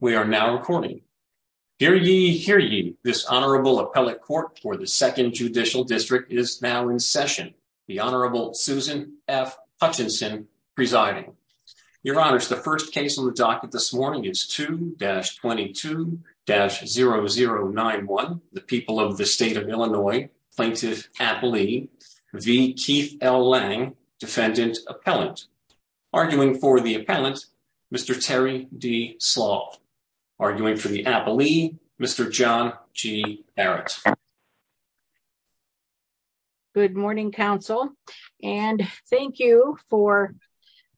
We are now recording. Hear ye, hear ye, this Honorable Appellate Court for the Second Judicial District is now in session. The Honorable Susan F. Hutchinson presiding. Your Honors, the first case on the docket this morning is 2-22-0091, the people of the state of Illinois, Plaintiff Atlee v. Keith L. Lang, Defendant Appellant. Arguing for the appellant, Mr. Terry D. Slaw. Arguing for the appellee, Mr. John G. Barrett. Good morning, counsel, and thank you for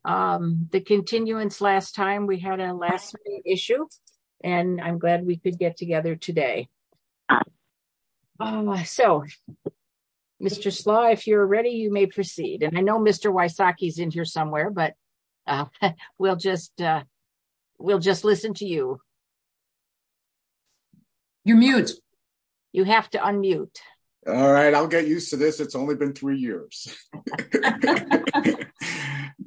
the continuance last time. We had a last minute issue and I'm glad we could get together today. So, Mr. Slaw, if you're ready, you may proceed. And I know Mr. Wysocki is in here somewhere, but we'll just listen to you. You're mute. You have to unmute. All right, I'll get used to this. It's only been three years.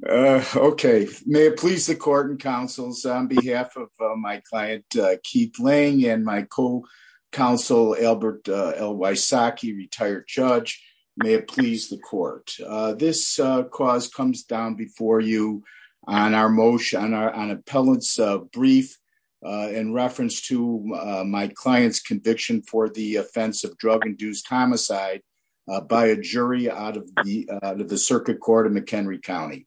Okay, may it please the court and counsels on behalf of my client, Keith Lang, and my co-counsel, Albert L. Wysocki, retired judge, may it please the court. This cause comes down before you on our motion, on appellant's brief in reference to my client's conviction for the offense of drug-induced homicide by a jury out of the circuit court in McHenry County.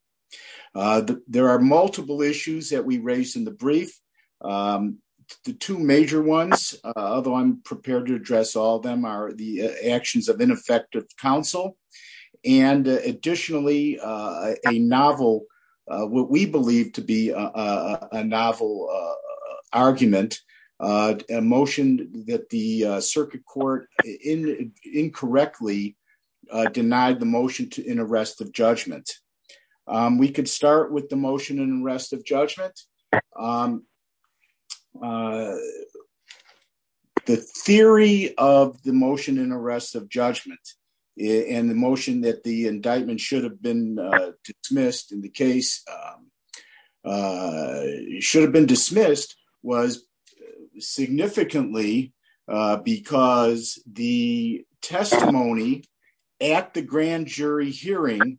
There are multiple issues that we raised in the brief. The two major ones, although I'm prepared to address all of them, are the actions of ineffective counsel. And additionally, a novel, what we believe to be a novel argument, a motion that the circuit court incorrectly denied the motion in arrest of judgment. We could start with the motion in arrest of judgment. The theory of the motion in arrest of judgment and the motion that the indictment should have been dismissed in the case, should have been dismissed was significantly because the testimony at the grand jury hearing,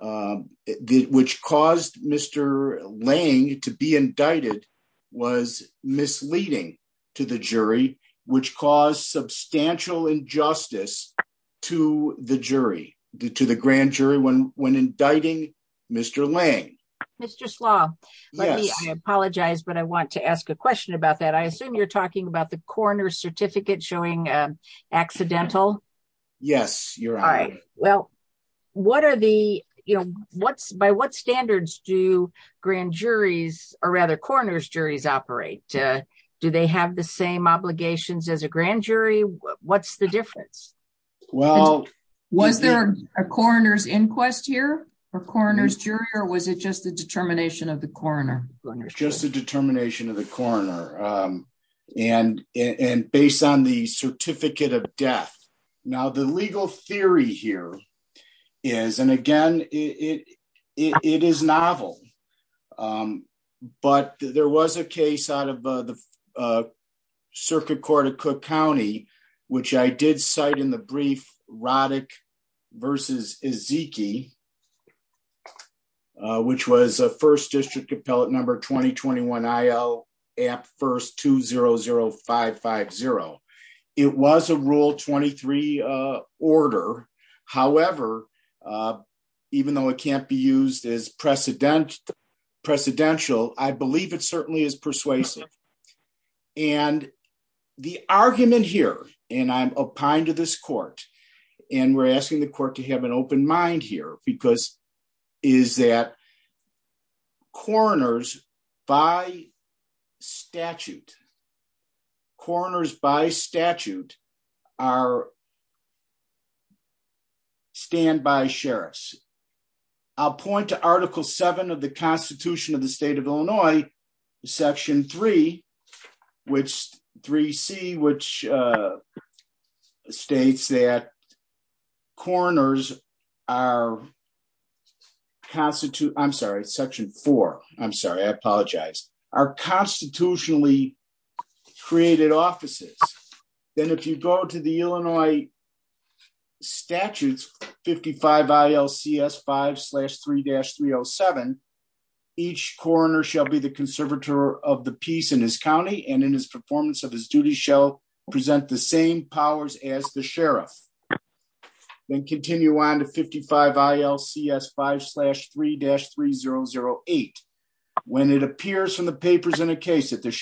which caused Mr. Lang to be indicted, was misleading to the jury, which caused substantial injustice to the grand jury when indicting Mr. Lang. Mr. Slaw, I apologize, but I want to ask a question about that. I assume you're talking about the coroner's certificate showing accidental. Yes, you're right. Well, what are the, you know, what's, by what standards do grand juries or rather coroner's juries operate? Do they have the same obligations as a grand jury? What's the difference? Well, was there a coroner's inquest here or coroner's jury or was it just the determination of the coroner? Just the determination of the coroner and based on the certificate of death. Now, the legal theory here is, and again, it is novel, but there was a case out of the circuit court of Cook County, which I did cite in the brief Roddick versus Ezekie, which was a first district appellate number 2021 IL app first two zero zero five five zero. It was a rule 23 order. However, even though it can't be used as precedent, precedential, I believe it certainly is persuasive. And the argument here, and I'm opined to this court and we're asking the court to have an open mind here because is that coroners by statute, coroners by statute are standby sheriffs. I'll point to article seven of the constitution of the state of Illinois, section three, which three C, which states that coroners are constitute. I'm sorry, section four. I'm sorry. I apologize. Our constitutionally created offices. Then if you go to the Illinois statutes, 55 ILCS five slash three dash three Oh seven, each coroner shall be the conservator of the peace in his County. And in his performance of his duty show present the same powers as the sheriff. Then continue on to 55 ILCS five slash three dash three zero zero eight. When it appears from the papers in a case that the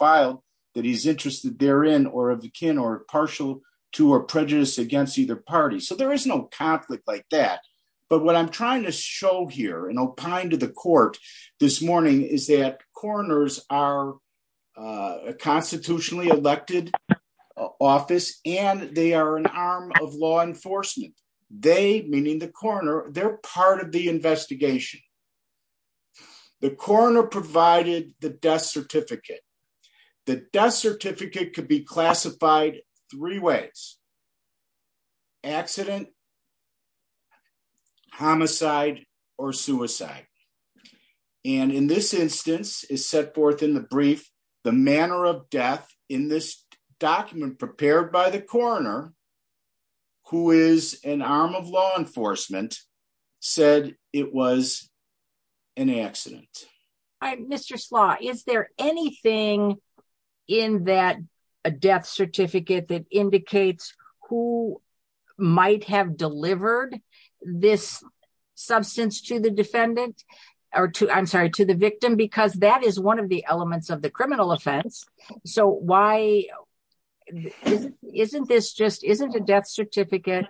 file that he's interested therein or of the kin or partial to or prejudice against either party. So there is no conflict like that. But what I'm trying to show here and opine to the court this morning is that coroners are a constitutionally elected office and they are an arm of law enforcement. They meaning the corner they're part of the investigation. The corner provided the death certificate. The death certificate could be classified three ways, accident, homicide, or suicide. And in this instance is set forth in the brief, the manner of death in this document prepared by the corner, who is an arm of law enforcement said it was an accident. Mr. Slaw, is there anything in that a death certificate that indicates who might have delivered this substance to the defendant or to, I'm sorry, to the victim, because that is one of the elements of the criminal offense. So why isn't this just isn't a death certificate,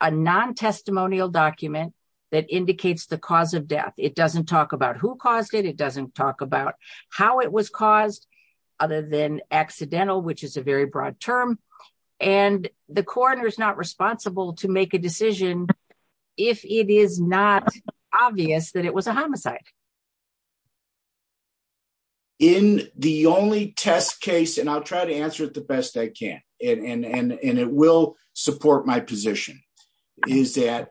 a non testimonial document that indicates the cause of death. It doesn't talk about who caused it. It doesn't talk about how it was caused other than accidental, which is a very broad term. And the corner is not responsible to make a decision. If it is not obvious that it was a homicide. In the only test case, and I'll try to answer it the best I can and it will support my position is that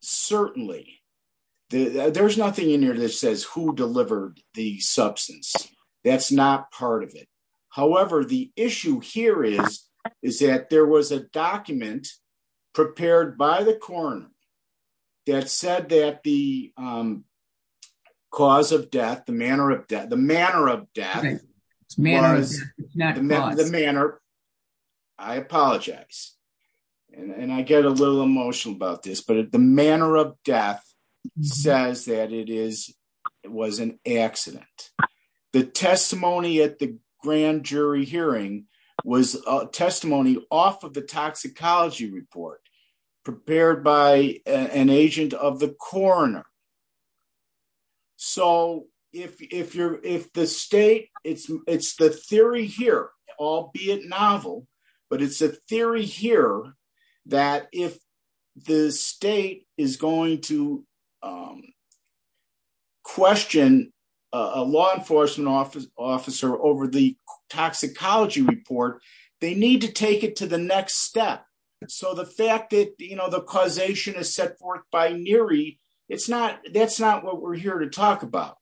certainly there's nothing in here that says who delivered the substance. That's not part of it. However, the issue here is, is that there was a document prepared by the corner that said that the cause of death, the manner of death, the manner of death was not the manner. I apologize. And I get a little emotional about this, but the manner of death says that it is, it was an accident. The testimony at the jury hearing was a testimony off of the toxicology report prepared by an agent of the corner. So if you're, if the state it's, it's the theory here, all be it novel, but it's a theory here that if the state is going to um, question a law enforcement office officer over the toxicology report, they need to take it to the next step. So the fact that, you know, the causation is set forth by Neary. It's not, that's not what we're here to talk about.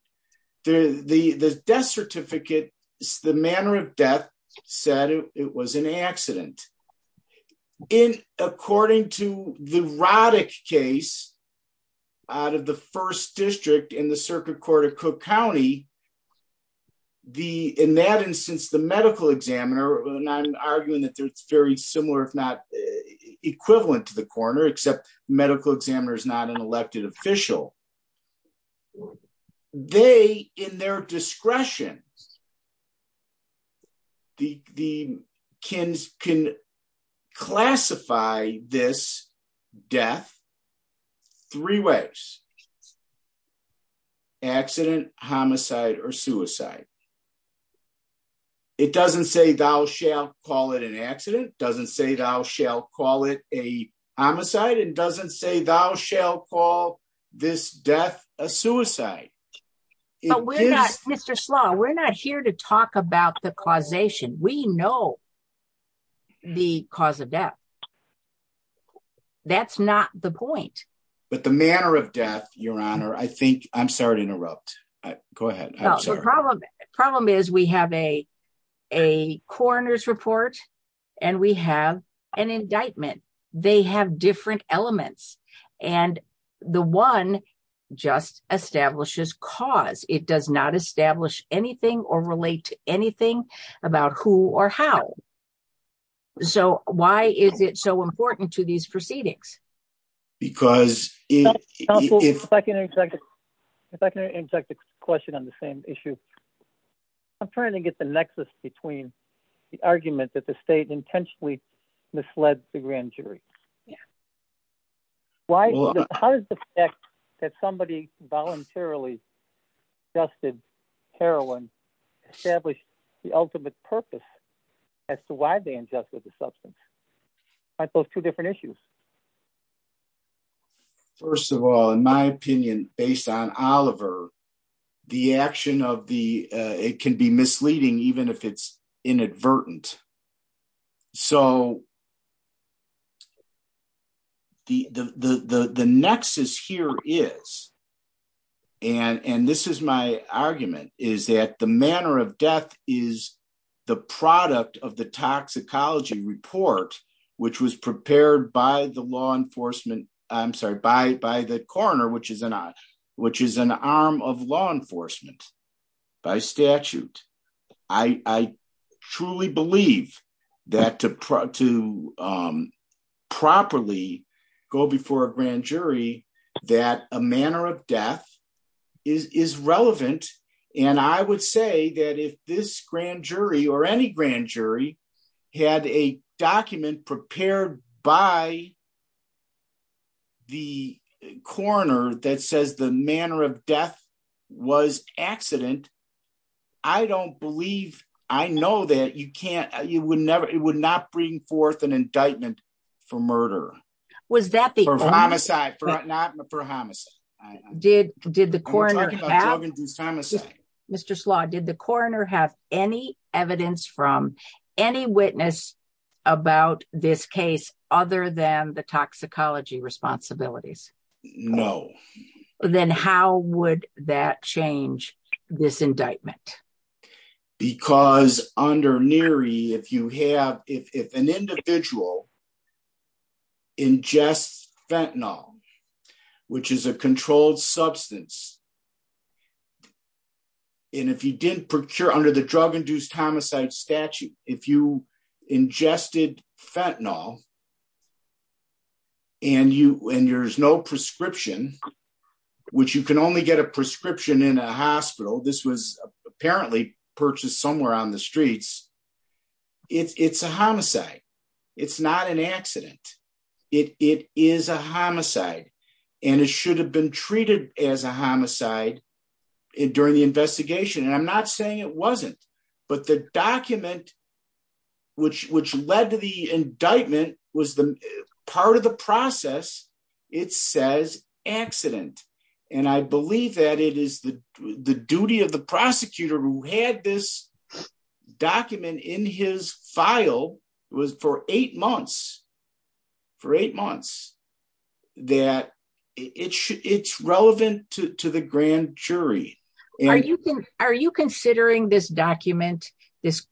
The, the, the death certificate is the of death said it was an accident in, according to the Roddick case out of the first district in the circuit court of cook County. The, in that instance, the medical examiner, and I'm arguing that there's very similar, if not equivalent to the corner, except medical examiner is not an elected official. Well, they, in their discretion, the, the Ken's can classify this death three ways, accident, homicide, or suicide. It doesn't say thou shalt call it an accident. Doesn't say thou shalt call it a homicide. It doesn't say thou shalt call this death, a suicide. Mr. Slaw, we're not here to talk about the causation. We know the cause of death. That's not the point. But the manner of death, your honor, I think I'm sorry to interrupt. Go ahead. Problem is we have a, a coroner's report and we have an indictment. They have different elements and the one just establishes cause. It does not establish anything or relate to anything about who or how. So why is it so important to these proceedings? Because if I can, if I can inject a question on the same issue, I'm trying to get the nexus between the argument that the state intentionally misled the grand jury. Yeah. Why, how does the fact that somebody voluntarily dusted heroin established the ultimate purpose as to why they ingested the substance? I thought two different issues. First of all, in my opinion, based on Oliver, the action of the, it can be misleading, even if it's inadvertent. So the, the, the, the, the nexus here is, and, and this is my argument is that the manner of death is the product of the toxicology report, which was prepared by the law enforcement, I'm sorry, by, by the coroner, which is an, which is an arm of law enforcement by statute. I truly believe that to, to properly go before a grand jury, that a manner of death is relevant. And I would say that if this grand jury or any grand jury had a document prepared by the coroner that says the manner of death was accident, I don't believe, I know that you can't, you would never, it would not bring forth an indictment for murder. Was that the homicide for not for homicide? Did, did the coroner, Mr. Slaw, did the coroner have any evidence from any witness about this case other than the toxicology responsibilities? No. Then how would that change this indictment? Because under NERI, if you have, if, if an individual ingests fentanyl, which is a controlled substance, and if you didn't procure under the drug-induced homicide statute, if you ingested fentanyl and you, and there's no prescription, which you can only get a prescription in a hospital, this was apparently purchased somewhere on the streets. It's, it's a homicide. It's not an homicide during the investigation. And I'm not saying it wasn't, but the document which, which led to the indictment was the part of the process. It says accident. And I believe that it is the duty of the prosecutor who had this document in his file was for eight months, for eight months, that it should, it's relevant to the grand jury. Are you, are you considering this document, this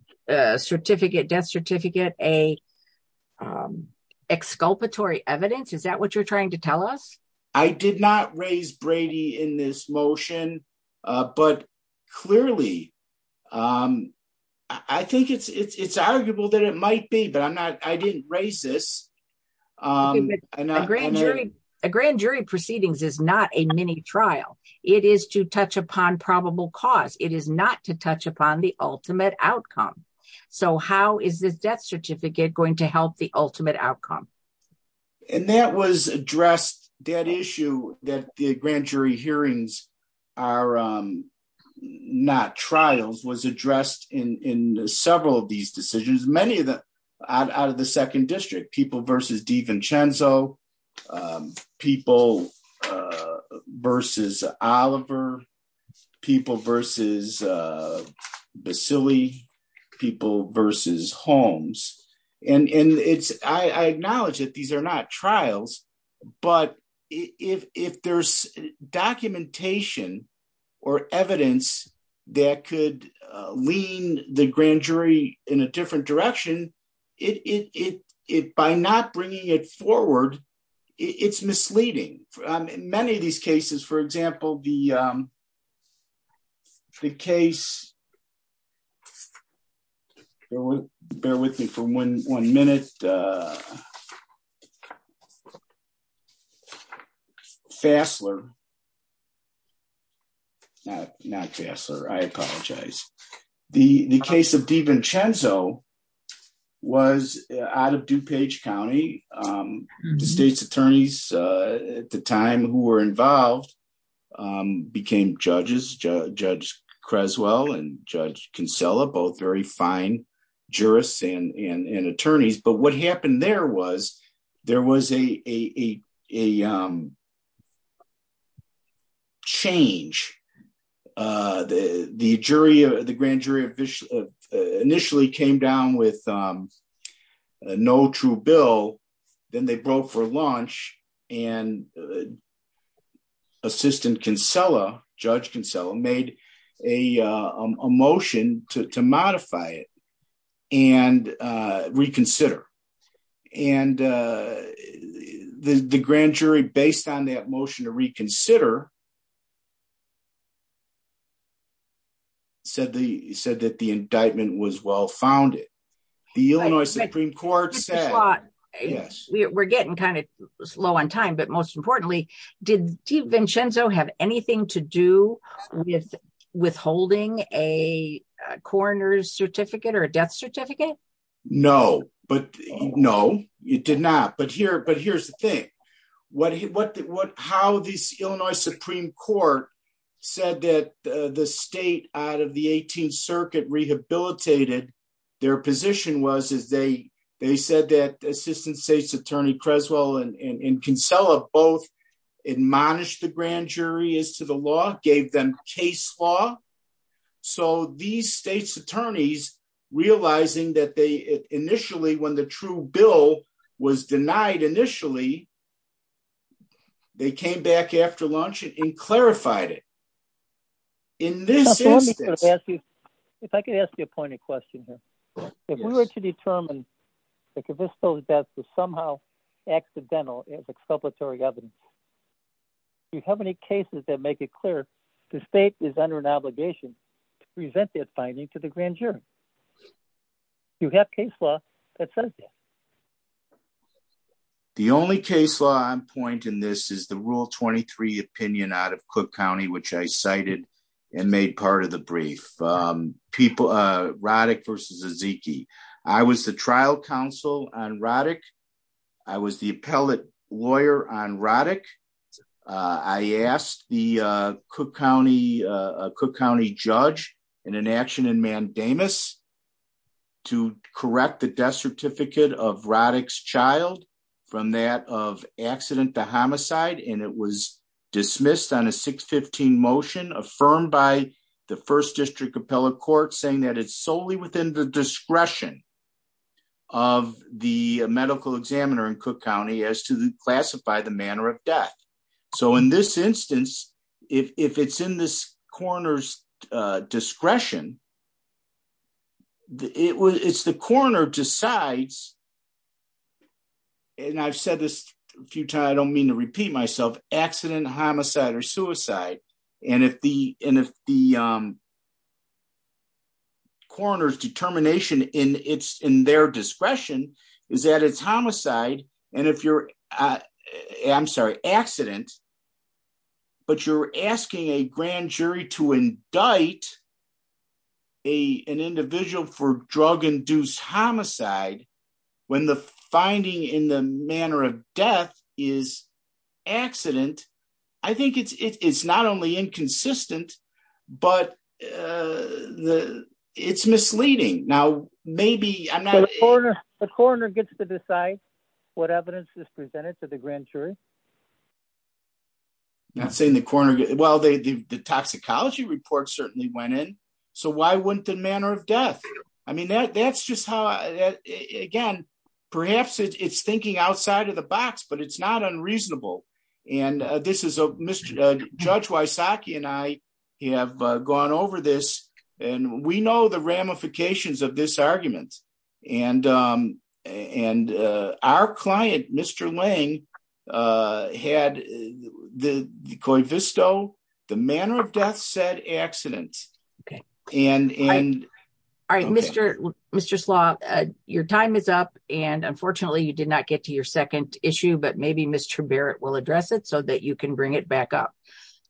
certificate, death certificate, a exculpatory evidence? Is that what you're trying to tell us? I did not raise Brady in this motion, but clearly I think it's, it's, it's arguable that it might be, but I'm not, I didn't raise this. A grand jury proceedings is not a mini trial. It is to touch upon probable cause. It is not to touch upon the ultimate outcome. So how is this death certificate going to help the ultimate outcome? These are not trials was addressed in, in several of these decisions. Many of them out of the second district, people versus D. Vincenzo, people versus Oliver, people versus Basile, people versus Holmes. And it's, I acknowledge that these are not trials, but if, if there's documentation or evidence that could lean the grand jury in a different direction, it, it, it, it, by not bringing it forward, it's misleading. In many of these cases, for example, the, the case, bear with me for one, one minute. Fassler, not, not Fassler. I apologize. The, the case of D. Vincenzo was out of DuPage County, the state's attorneys at the time who were involved became judges, Judge Creswell and Judge Kinsella, both very fine jurists and, and, and attorneys. But what happened there was, there was a, a, a change. The, the jury, the grand jury initially came down with a no true bill. Then they broke for lunch and assistant Kinsella, Judge Kinsella made a motion to, to modify it and reconsider. And the, the grand jury based on that motion to reconsider said the, said that the indictment was well-founded. The Illinois Supreme Court said, we're getting kind of slow on time, but most importantly, did D. Vincenzo have anything to do with withholding a coroner's certificate or a death certificate? No, but no, it did not. But here, but here's the thing, what, what, what, how these Illinois Supreme Court said that the state out of the 18th circuit rehabilitated their position was, is they, they said that assistant state's attorney, Creswell and Kinsella both admonished the grand jury as to the law, gave them case law. So these state's attorneys realizing that they initially, when the true bill was denied initially, they came back after lunch and clarified it. In this instance, if I could ask you a point of question here, if we were to determine the convict's death was somehow accidental as exculpatory evidence, do you have any cases that make it clear the state is under an obligation to present that finding to the grand jury? Do you have case law that says that? The only case law I'm pointing this is the rule 23 opinion out of Cook County, which I cited and made part of the brief. People, Roddick versus Ezekie. I was the trial counsel on Roddick. I was the appellate lawyer on Roddick. I asked the Cook County, Cook County judge in an action in mandamus to correct the death certificate of Roddick's child from that of accident to homicide. And it was dismissed on a 615 motion affirmed by the first district appellate court saying that it's solely within the discretion of the medical examiner in Cook County as to classify the manner of death. So in this instance, if it's in this coroner's discretion, it's the coroner decides, and I've said this a few times, I don't mean to repeat myself, accident, homicide, or suicide. And if the coroner's determination in their discretion is that it's homicide, and if you're, I'm sorry, accident, but you're asking a grand jury to indict an individual for drug-induced homicide, when the finding in the manner of death is accident, I think it's not only inconsistent, but it's misleading. Now, maybe I'm not- So the coroner gets to decide what evidence is presented to the grand jury? Not saying the coroner, well, the toxicology report certainly went in. So why wouldn't the manner of death? I mean, that's just how, again, perhaps it's thinking outside of the box, but it's not unreasonable. And this is, Judge Wysocki and I have gone over this, and we know the ramifications of this argument. And our client, Mr. Lang, had the co-visto, the manner of death said accident. Okay. All right, Mr. Slaw, your time is up, and unfortunately you did not get to your second issue, but maybe Mr. Barrett will address it so that you can bring it back up.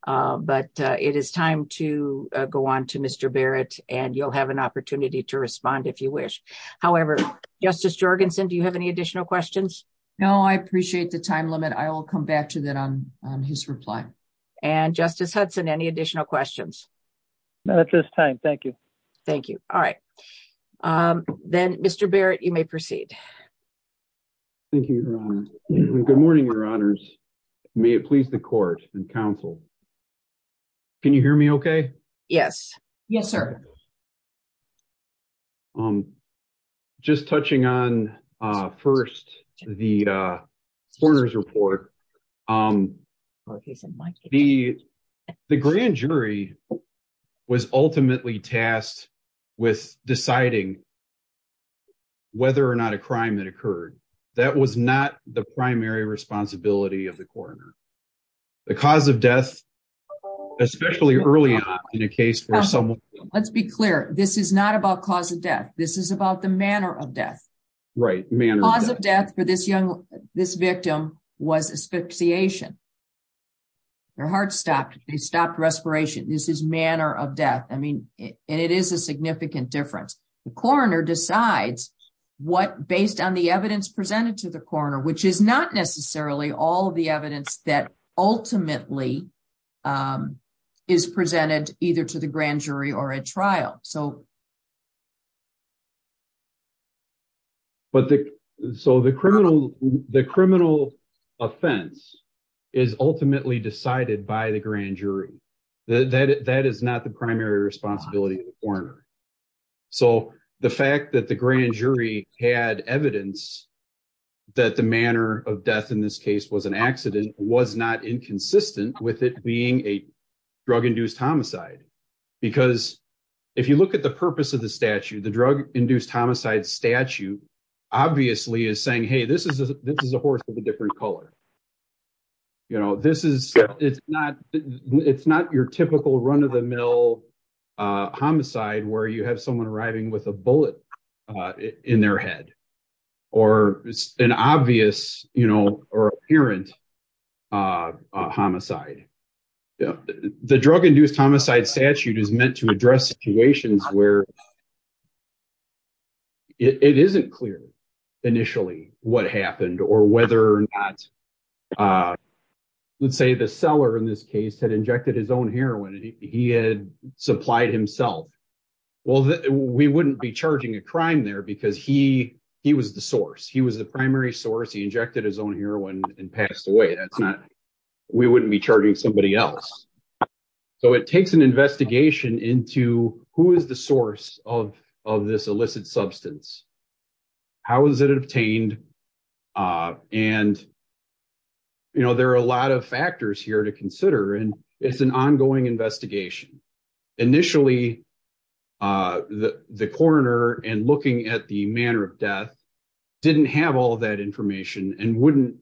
But it is time to go on to Mr. Barrett, and you'll have an opportunity to respond if you wish. However, Justice Jorgensen, do you have any additional questions? No, I appreciate the time limit. I will come back to that on his reply. And Justice Hudson, any additional questions? No, at this time. Thank you. Thank you. All right. Then, Mr. Barrett, you may proceed. Thank you, Your Honor. Good morning, Your Honors. May it please the court and counsel. Can you hear me okay? Yes. Yes, sir. Just touching on first the coroner's report, the grand jury was ultimately tasked with deciding whether or not a crime had occurred. That was not the primary responsibility of the coroner. The cause of death, especially early on in a case where someone- Let's be clear. This is not about cause of death. This is about the manner of death. Right. Manner of death. Cause of death for this victim was asphyxiation. Their heart stopped. They stopped respiration. This is manner of death. And it is a significant difference. The coroner decides what, based on the evidence presented to the coroner, which is not necessarily all of the evidence that ultimately is presented either to the grand jury or a trial. So the criminal offense is ultimately decided by the grand jury. That is not the primary responsibility of the coroner. So the fact that the grand jury had evidence that the manner of death in this case was an accident was not inconsistent with it being a drug-induced homicide. Because if you look at the purpose of the statute, the drug-induced homicide statute obviously is saying, hey, this is a horse of a different color. It's not your typical run-of-the-mill homicide where you have someone arriving with a bullet in their head. Or it's an obvious or apparent homicide. The drug-induced homicide statute is meant to address situations where it isn't clear initially what happened or whether or not, let's say the seller in this case had his own heroin and he had supplied himself. Well, we wouldn't be charging a crime there because he was the source. He was the primary source. He injected his own heroin and passed away. We wouldn't be charging somebody else. So it takes an investigation into who is the source of this illicit substance. How was it obtained? And there are a lot of factors here to consider. It's an ongoing investigation. Initially, the coroner and looking at the manner of death didn't have all that information and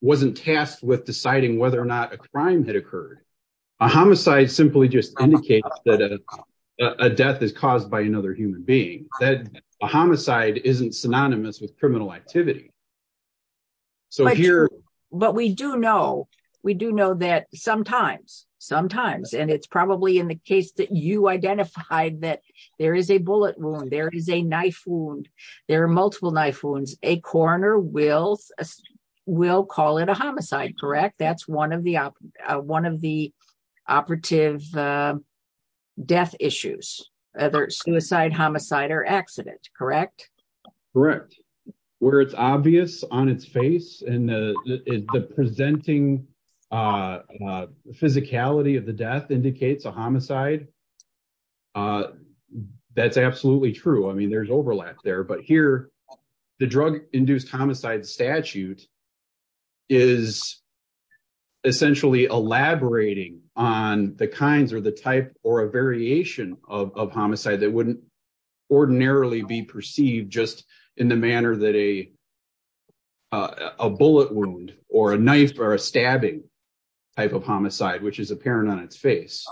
wasn't tasked with deciding whether or not a crime had occurred. A homicide simply just indicates that a death is caused by another human being. A homicide isn't synonymous with criminal activity. But we do know that sometimes, and it's probably in the case that you identified that there is a bullet wound, there is a knife wound, there are multiple knife wounds, a coroner will call it a homicide. That's one of the operative death issues, whether it's suicide, homicide, or accident, correct? Correct. Where it's obvious on its face and the presenting physicality of the death indicates a homicide, that's absolutely true. I mean, there's overlap there. But here, the drug-induced homicide statute is essentially elaborating on the kinds or the type or a homicide that wouldn't ordinarily be perceived just in the manner that a bullet wound or a knife or a stabbing type of homicide, which is apparent on its face.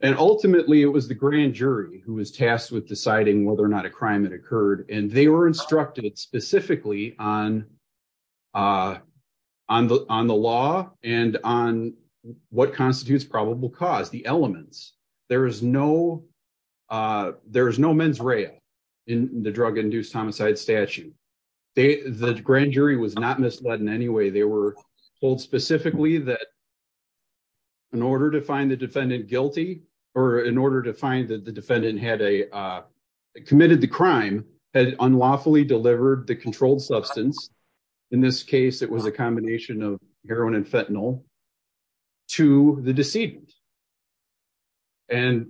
And ultimately, it was the grand jury who was tasked with deciding whether or not a crime had occurred. And they were instructed specifically on the law and on what constitutes probable cause, the elements. There is no mens rea in the drug-induced homicide statute. The grand jury was not misled in any way. They were told specifically that in order to find the defendant guilty, or in order to find that defendant had committed the crime, had unlawfully delivered the controlled substance, in this case, it was a combination of heroin and fentanyl, to the decedent. And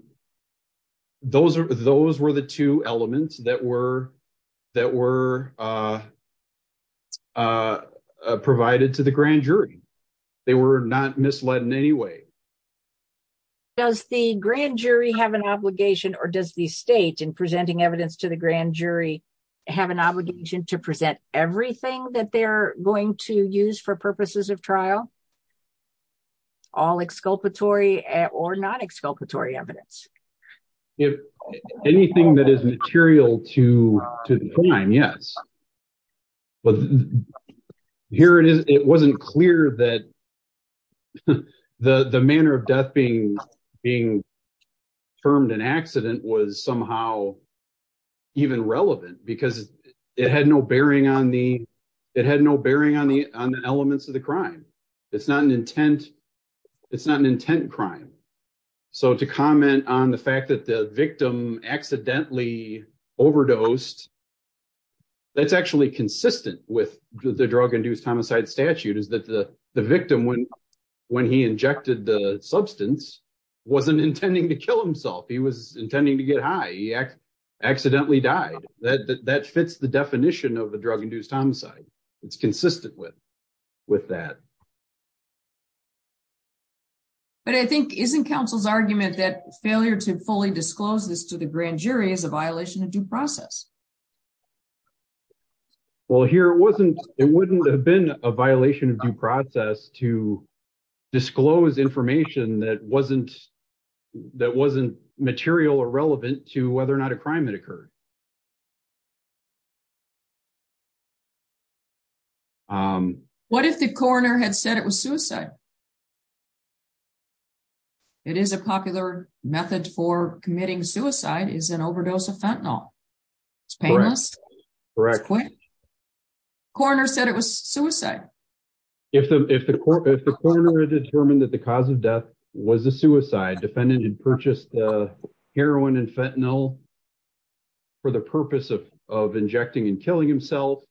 those were the two elements that were provided to the grand jury. They were not misled in any way. Does the grand jury have an obligation, or does the state, in presenting evidence to the grand jury, have an obligation to present everything that they're going to use for purposes of trial? All exculpatory or non-exculpatory evidence? If anything that is material to the crime, yes. But here it is, it wasn't clear that the manner of death being termed an accident was somehow even relevant because it had no bearing on the elements of the crime. It's not an intent crime. So to comment on the fact that the victim accidentally overdosed, that's actually consistent with the drug-induced homicide statute, is that the victim, when he injected the substance, wasn't intending to kill himself. He was intending to get high. He accidentally died. That fits the definition of the drug-induced homicide. It's consistent with that. But I think, isn't counsel's argument that failure to fully disclose this to the grand jury is a violation of due process? Well, here it wasn't, it wouldn't have been a violation of due process to disclose information that wasn't, that wasn't material or relevant to whether or not a crime had occurred. What if the coroner had said it was suicide? It is a popular method for committing suicide, is an overdose of fentanyl. It's painless, it's quick. The coroner said it was suicide. If the coroner had determined that the cause of death was a suicide, defendant had purchased heroin and fentanyl for the purpose of injecting and killing himself,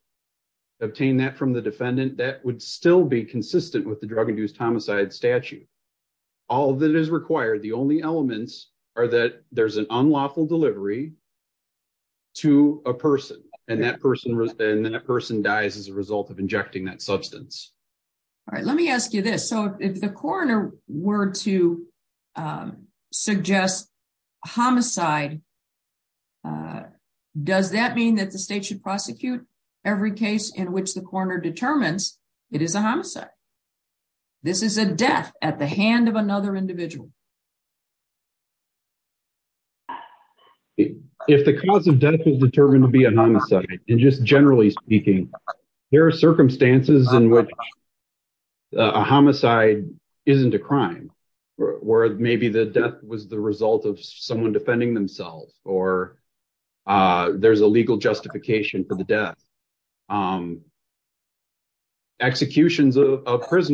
obtained that from the defendant, that would still be consistent with the drug-induced homicide statute. All that is required, the only elements are that there's an unlawful delivery to a person and that person, and then that person dies as a result of injecting that substance. All right, let me ask you this. So if the coroner were to suggest homicide, does that mean that the state should prosecute every case in which the coroner determines it is a homicide? This is a death at the hand of another individual. If the cause of death is determined to be a homicide, and just generally speaking, there are circumstances in which a homicide isn't a crime, where maybe the death was the result of someone defending themselves, or there's a legal justification for the death. Executions of that's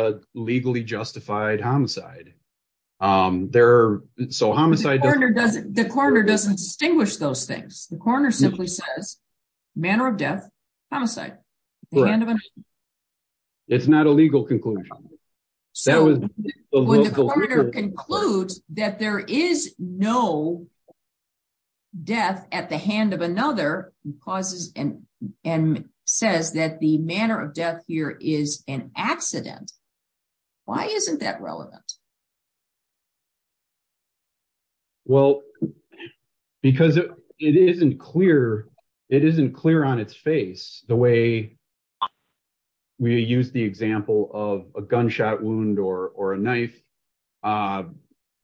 a legally justified homicide. The coroner doesn't distinguish those things. The coroner simply says, manner of death, homicide. It's not a legal conclusion. When the coroner concludes that there is no death at the hand of another, and says that the manner of death here is an accident, why isn't that relevant? Well, because it isn't clear on its face the way we use the example of a gunshot wound or a knife, a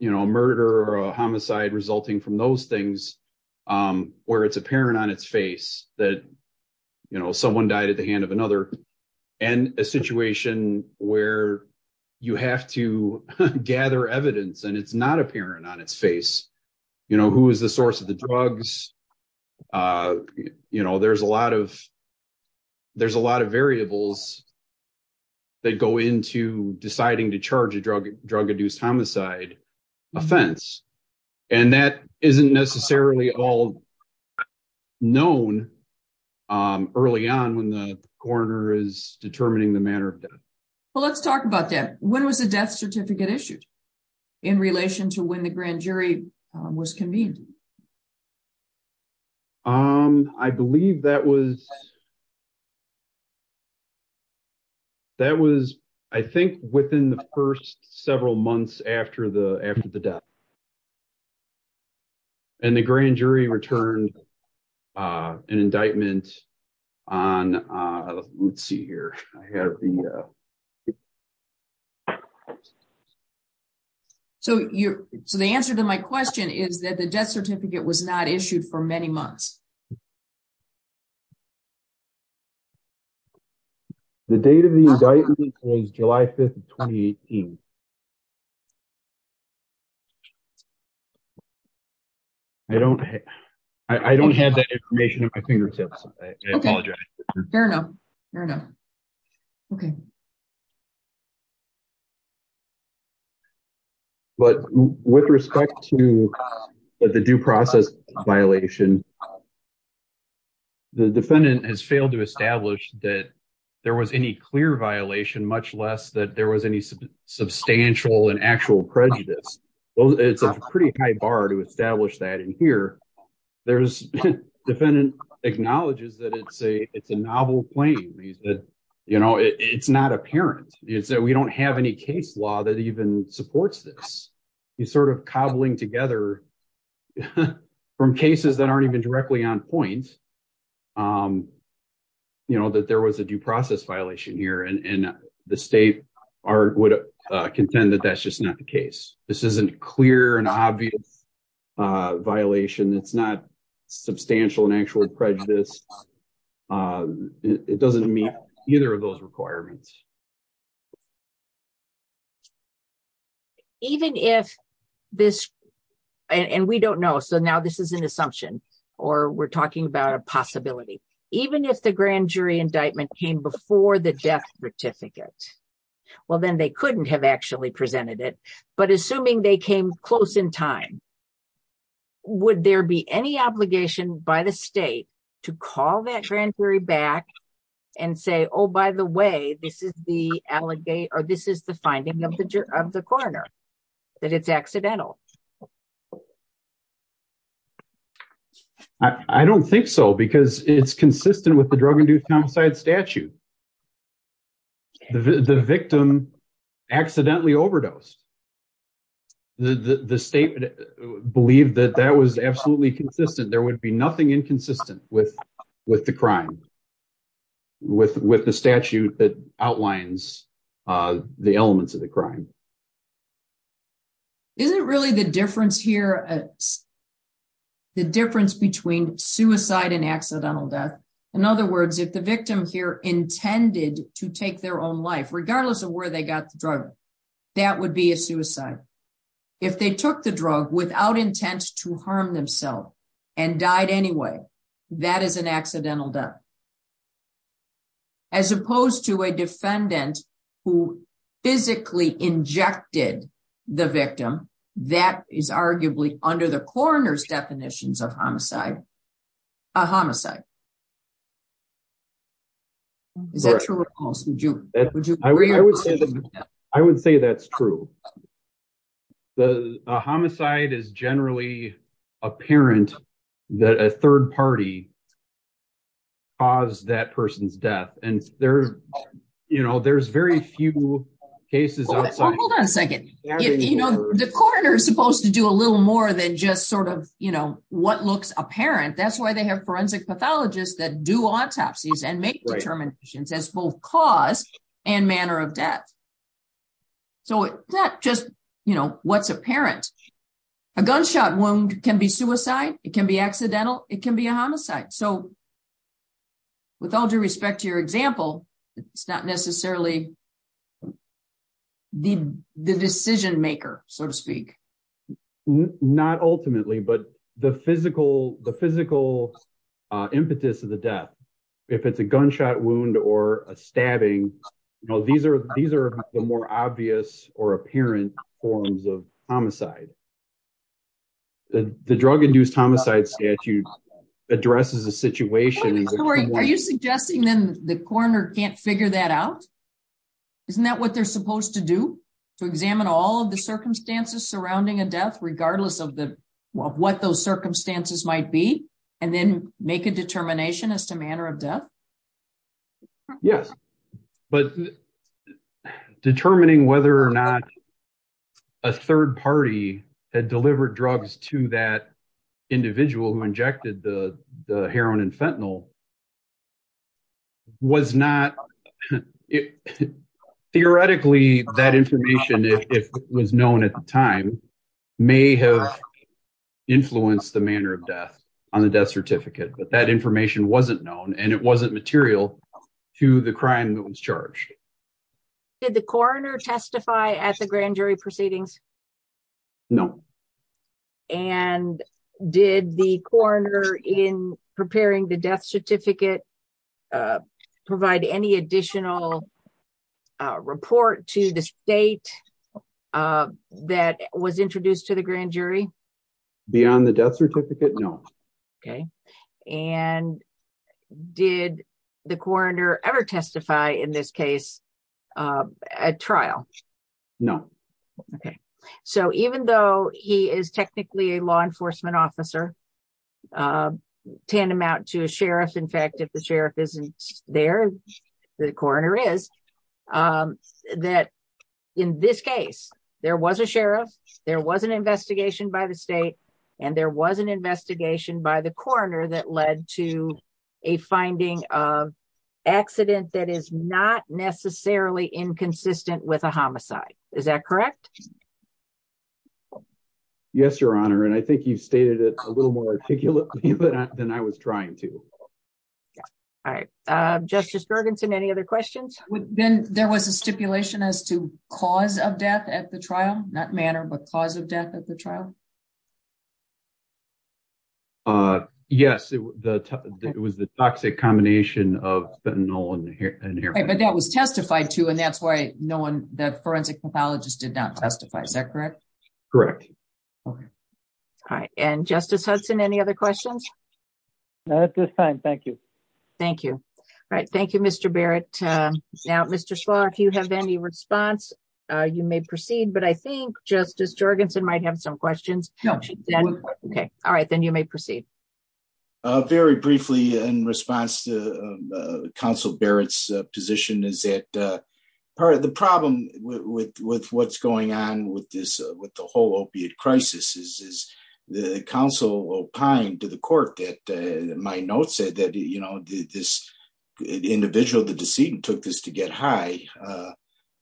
murder or a homicide resulting from those things, where it's apparent on its face that someone died at the hand of another, and a situation where you have to gather evidence and it's not apparent on its face. Who is the source of the drugs? There's a lot of variables that go into deciding to charge a drug-induced homicide offense, and that isn't necessarily all known early on when the coroner is determining the manner of death. Well, let's talk about that. When was the death certificate issued in relation to when the grand jury was convened? I believe that was I think within the first several months after the death. The grand jury returned an indictment on... Let's see here. So, the answer to my question is that the death certificate was not issued for many months. The date of the indictment was July 5th, 2018. I don't have that information at my fingertips. I apologize. Fair enough. Fair enough. Okay. But with respect to the due process violation, the defendant has failed to establish that there was any clear violation, much less that there was any substantial and actual prejudice. Well, it's a pretty high bar to establish that in here. The defendant acknowledges that it's a novel claim. It's not apparent. We don't have any case law that even supports this. He's sort of cobbling together from cases that aren't even directly on point that there was a due process violation here, and the state would contend that that's just not the case. This isn't a clear and obvious violation. It's not substantial and actual prejudice. It doesn't meet either of those requirements. Even if this... And we don't know, so now this is an assumption, or we're talking about a possibility. Even if the grand jury indictment came before the death certificate, well, then they couldn't have actually presented it. But assuming they came close in time, would there be any obligation by the state to call that grand jury back and say, oh, by the way, this is the finding of the coroner, that it's accidental? I don't think so, because it's consistent with the drug and duty homicide statute. The victim accidentally overdosed. The state believed that that was absolutely consistent. There would be nothing inconsistent with the crime, with the statute that outlines the elements of the crime. Isn't really the difference here the difference between suicide and accidental death? In other words, if the victim here intended to take their own life, regardless of where they got the drug, that would be a suicide. If they took the drug without intent to harm themselves and died anyway, that is an accidental death. As opposed to a defendant who physically injected the victim, that is arguably under the coroner's definitions of homicide, a homicide. Is that true or false? I would say that's true. A homicide is generally apparent that a third party caused that person's death. There's very few cases outside- Hold on a second. The coroner is supposed to do a little more than just what looks apparent. That's why they have forensic pathologists that do autopsies and make determinations as both cause and manner of death. It's not just what's apparent. A gunshot wound can be suicide, it can be accidental, it can be a homicide. With all due respect to your example, it's not necessarily the decision-maker, so to speak. Not ultimately, but the physical impetus of the death, if it's a gunshot wound or a stabbing, these are the more obvious or apparent forms of homicide. The drug-induced homicide statute addresses a situation- Are you suggesting then the coroner can't figure that out? Isn't that what they're supposed to do, to examine all of the circumstances surrounding a death, regardless of what those circumstances might be, and then make a determination as to manner of death? Yes. But determining whether or not a third party had delivered drugs to that individual who injected the heroin and fentanyl, theoretically, that information, if it was known at the time, may have influenced the manner of death on the death certificate. But that information wasn't known, and it wasn't material to the crime that was charged. Did the coroner testify at the grand jury proceedings? No. And did the coroner, in preparing the death certificate, provide any additional report to the state that was introduced to the grand jury? Beyond the death certificate, no. Okay. And did the coroner ever testify in this case at trial? No. Okay. So even though he is technically a law enforcement officer, tantamount to a sheriff, in fact, if the sheriff isn't there, the coroner is, that in this case, there was a sheriff, there was an investigation by the state, and there was an investigation by the coroner that led to a finding of accident that is not necessarily inconsistent with a homicide. Is that correct? Yes, Your Honor, and I think you stated it a little more articulately than I was trying to. All right. Justice Gergensen, any other questions? Ben, there was a stipulation as to cause of death at the trial, not manner, but cause of death at the trial? Yes. It was the toxic combination of fentanyl and heroin. But that was testified to, and that's why no one, the forensic pathologist, did not testify. Is that correct? Correct. All right. And Justice Hudson, any other questions? At this time, thank you. Thank you. All right. Thank you, Mr. Barrett. Now, Mr. Schlaw, if you have any response, you may proceed, but I think Justice Gergensen might have some questions. No. Okay. All right. Then you may proceed. Very briefly, in response to Counsel Barrett's position, is that part of the problem with what's going on with this, with the whole opiate crisis, is the counsel opined to the court that my note said that, you know, this individual, the decedent, took this to get high.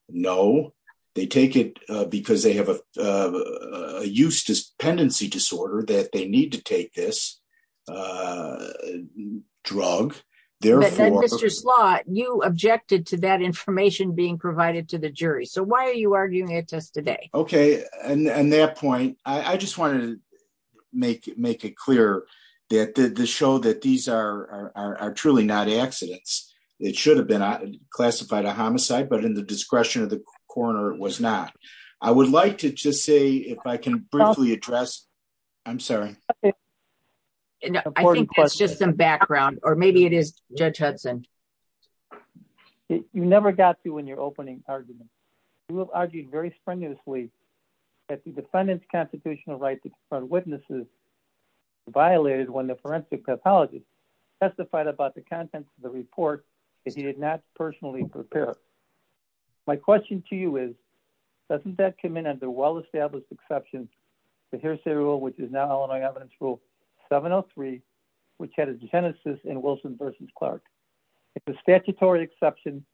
No. They take it because they have a dependency disorder that they need to take this drug. Mr. Schlaw, you objected to that information being provided to the jury. So, why are you arguing it to us today? Okay. And that point, I just wanted to make it clear that the show that these are truly not accidents. It should have been classified a homicide, but in the discretion of the coroner, it was not. I would like to just say, if I can briefly address, I'm sorry. I think that's just some background, or maybe it is Judge Hudson. You never got to in your opening argument. You have argued very strenuously that the defendant's constitutional right to confront witnesses violated when the forensic pathologist testified about the contents of the report that he did not personally prepare. My question to you is, doesn't that come in under well-established exceptions, but here's the rule, which is now Illinois Evidence Rule 703, which had a genesis in Wilson v. Clark. It's a statutory exception,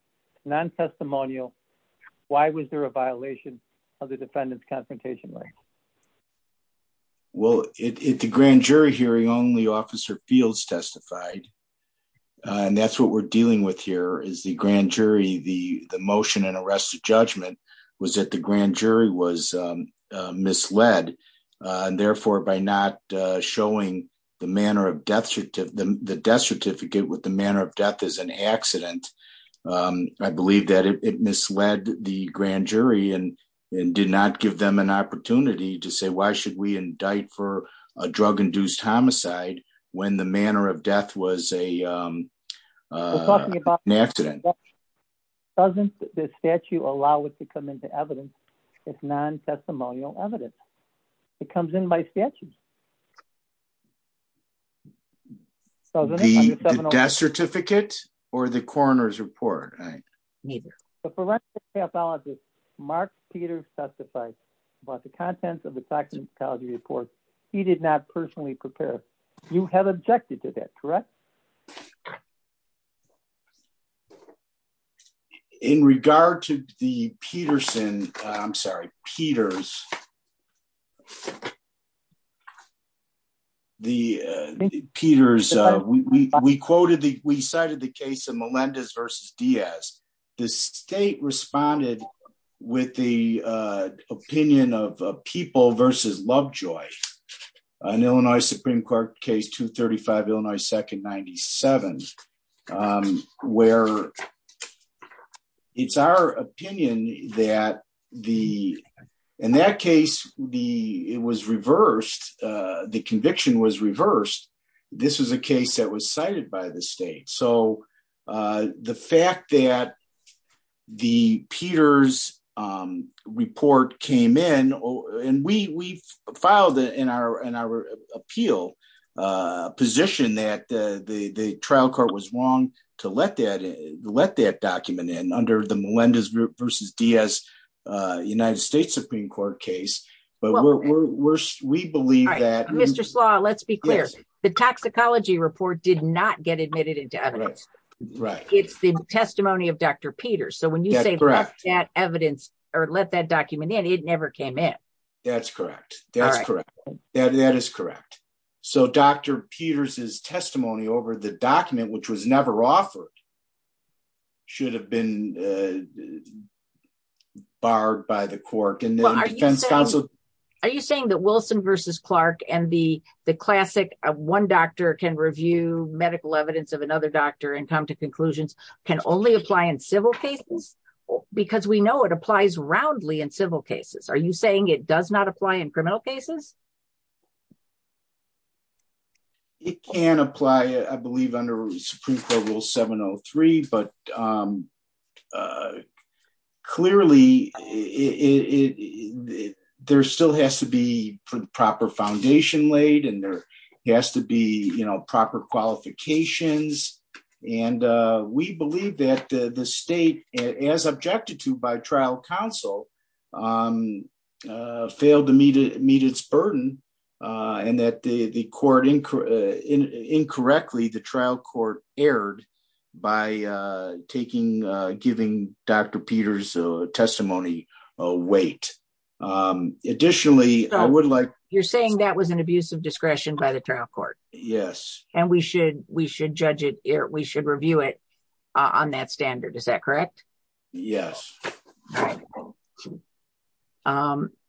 non-testimonial. Why was there a violation of the defendant's confrontation right? Well, at the grand jury hearing, only Officer Fields testified. That's what we're dealing with here, is the grand jury, the motion and arrest of judgment was that the grand jury was misled. Therefore, by not showing the death certificate with the manner of death as an accident, I believe that it misled the grand jury and did not give them an opportunity to say, why should we indict for a drug-induced homicide when the manner of death was an accident? Doesn't the statute allow it to come into evidence as non-testimonial evidence? It comes in by statute. The death certificate or the coroner's report? Neither. The forensic pathologist Mark Peters testified about the contents of the toxicology report. He did not personally prepare. You have objected to that, correct? In regard to the Peterson, I'm sorry, Peters, we cited the case of Melendez v. Diaz. The state responded with the opinion of People v. Lovejoy, an Illinois Supreme Court case, 235 Illinois 2nd 97, where it's our opinion that the, in that case, the, it was reversed. The conviction was reversed. This was a case that was cited by the state. So the fact that the Peters report came in and we filed it in our appeal position that the trial court was wrong to let that document in under the Melendez v. Diaz United States Supreme Court case, but we're, we're, we believe that. Mr. Slaw, let's be clear. The toxicology report did not get admitted into evidence. Right. It's the testimony of Dr. Peters. So when you say left that evidence or let that document in, it never came in. That's correct. That's correct. That is correct. So Dr. Peters' testimony over the document, which was never offered, should have been barred by the court. Are you saying that Wilson v. Clark and the classic one doctor can review medical evidence of another doctor and come to conclusions can only apply in civil cases? Because we know it applies roundly in civil cases. Are you saying it does not apply in criminal cases? It can apply, I believe under Supreme Court rule 703, but clearly it, there still has to be proper foundation laid and there has to be proper qualifications. And we believe that the state as objected to by trial counsel, failed to meet its burden and that the court incorrectly, the trial court erred by taking, giving Dr. Peters' testimony a weight. Additionally, I would like- You're saying that was an abuse of discretion by the trial court. Yes. And we should, we should judge it, we should review it on that standard. Is that correct? Yes.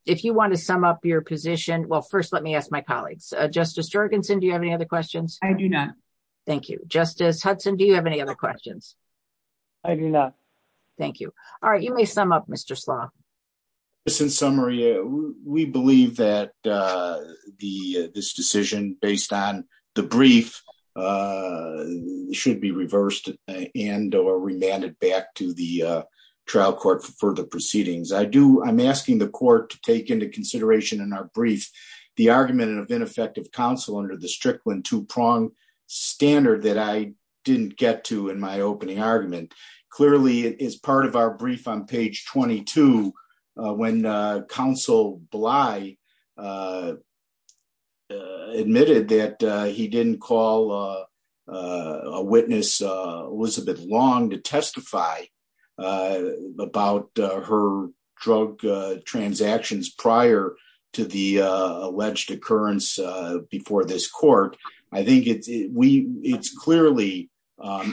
If you want to sum up your position, well, first let me ask my colleagues, Justice Jorgensen, do you have any other questions? I do not. Thank you. Justice Hudson, do you have any other questions? I do not. Thank you. All right. You may sum up Mr. Slough. Since summary, we believe that the, this decision based on the brief should be reversed and or remanded back to the trial court for further proceedings. I do, I'm asking the court to take into consideration in our brief, the argument of ineffective counsel under the Strickland two prong standard that I didn't get to in my opening argument. Clearly it is part of our brief on page 22 when counsel Bly admitted that he didn't call a witness, Elizabeth Long, to testify about her drug transactions prior to the alleged occurrence before this court. I think it's, it's clearly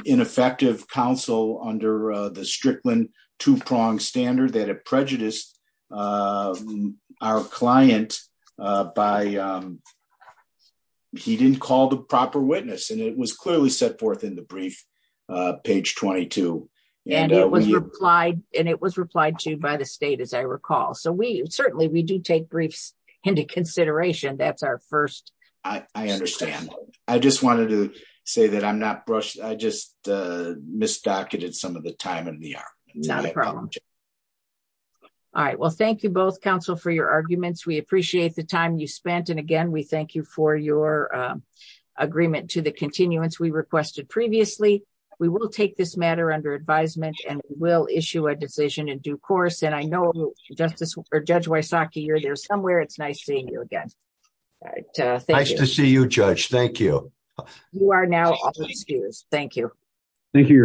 ineffective counsel under the Strickland two prong standard that it prejudiced our client by, he didn't call the proper witness and it was clearly set forth in the brief, page 22. And it was replied to by the state, as I recall. So we certainly, we do take briefs into consideration. That's our first. I understand. I just wanted to say that I'm not brushed. I just misdocumented some of the time in the argument. All right. Well, thank you both counsel for your arguments. We appreciate the time you spent. And again, we thank you for your agreement to the continuance we requested previously. We will take this matter under advisement and we'll issue a decision in due course. And I know justice or judge Wysocki you're there somewhere. It's nice seeing you again. All right. Nice to see you judge. Thank you. You are now excused. Thank you. Thank you.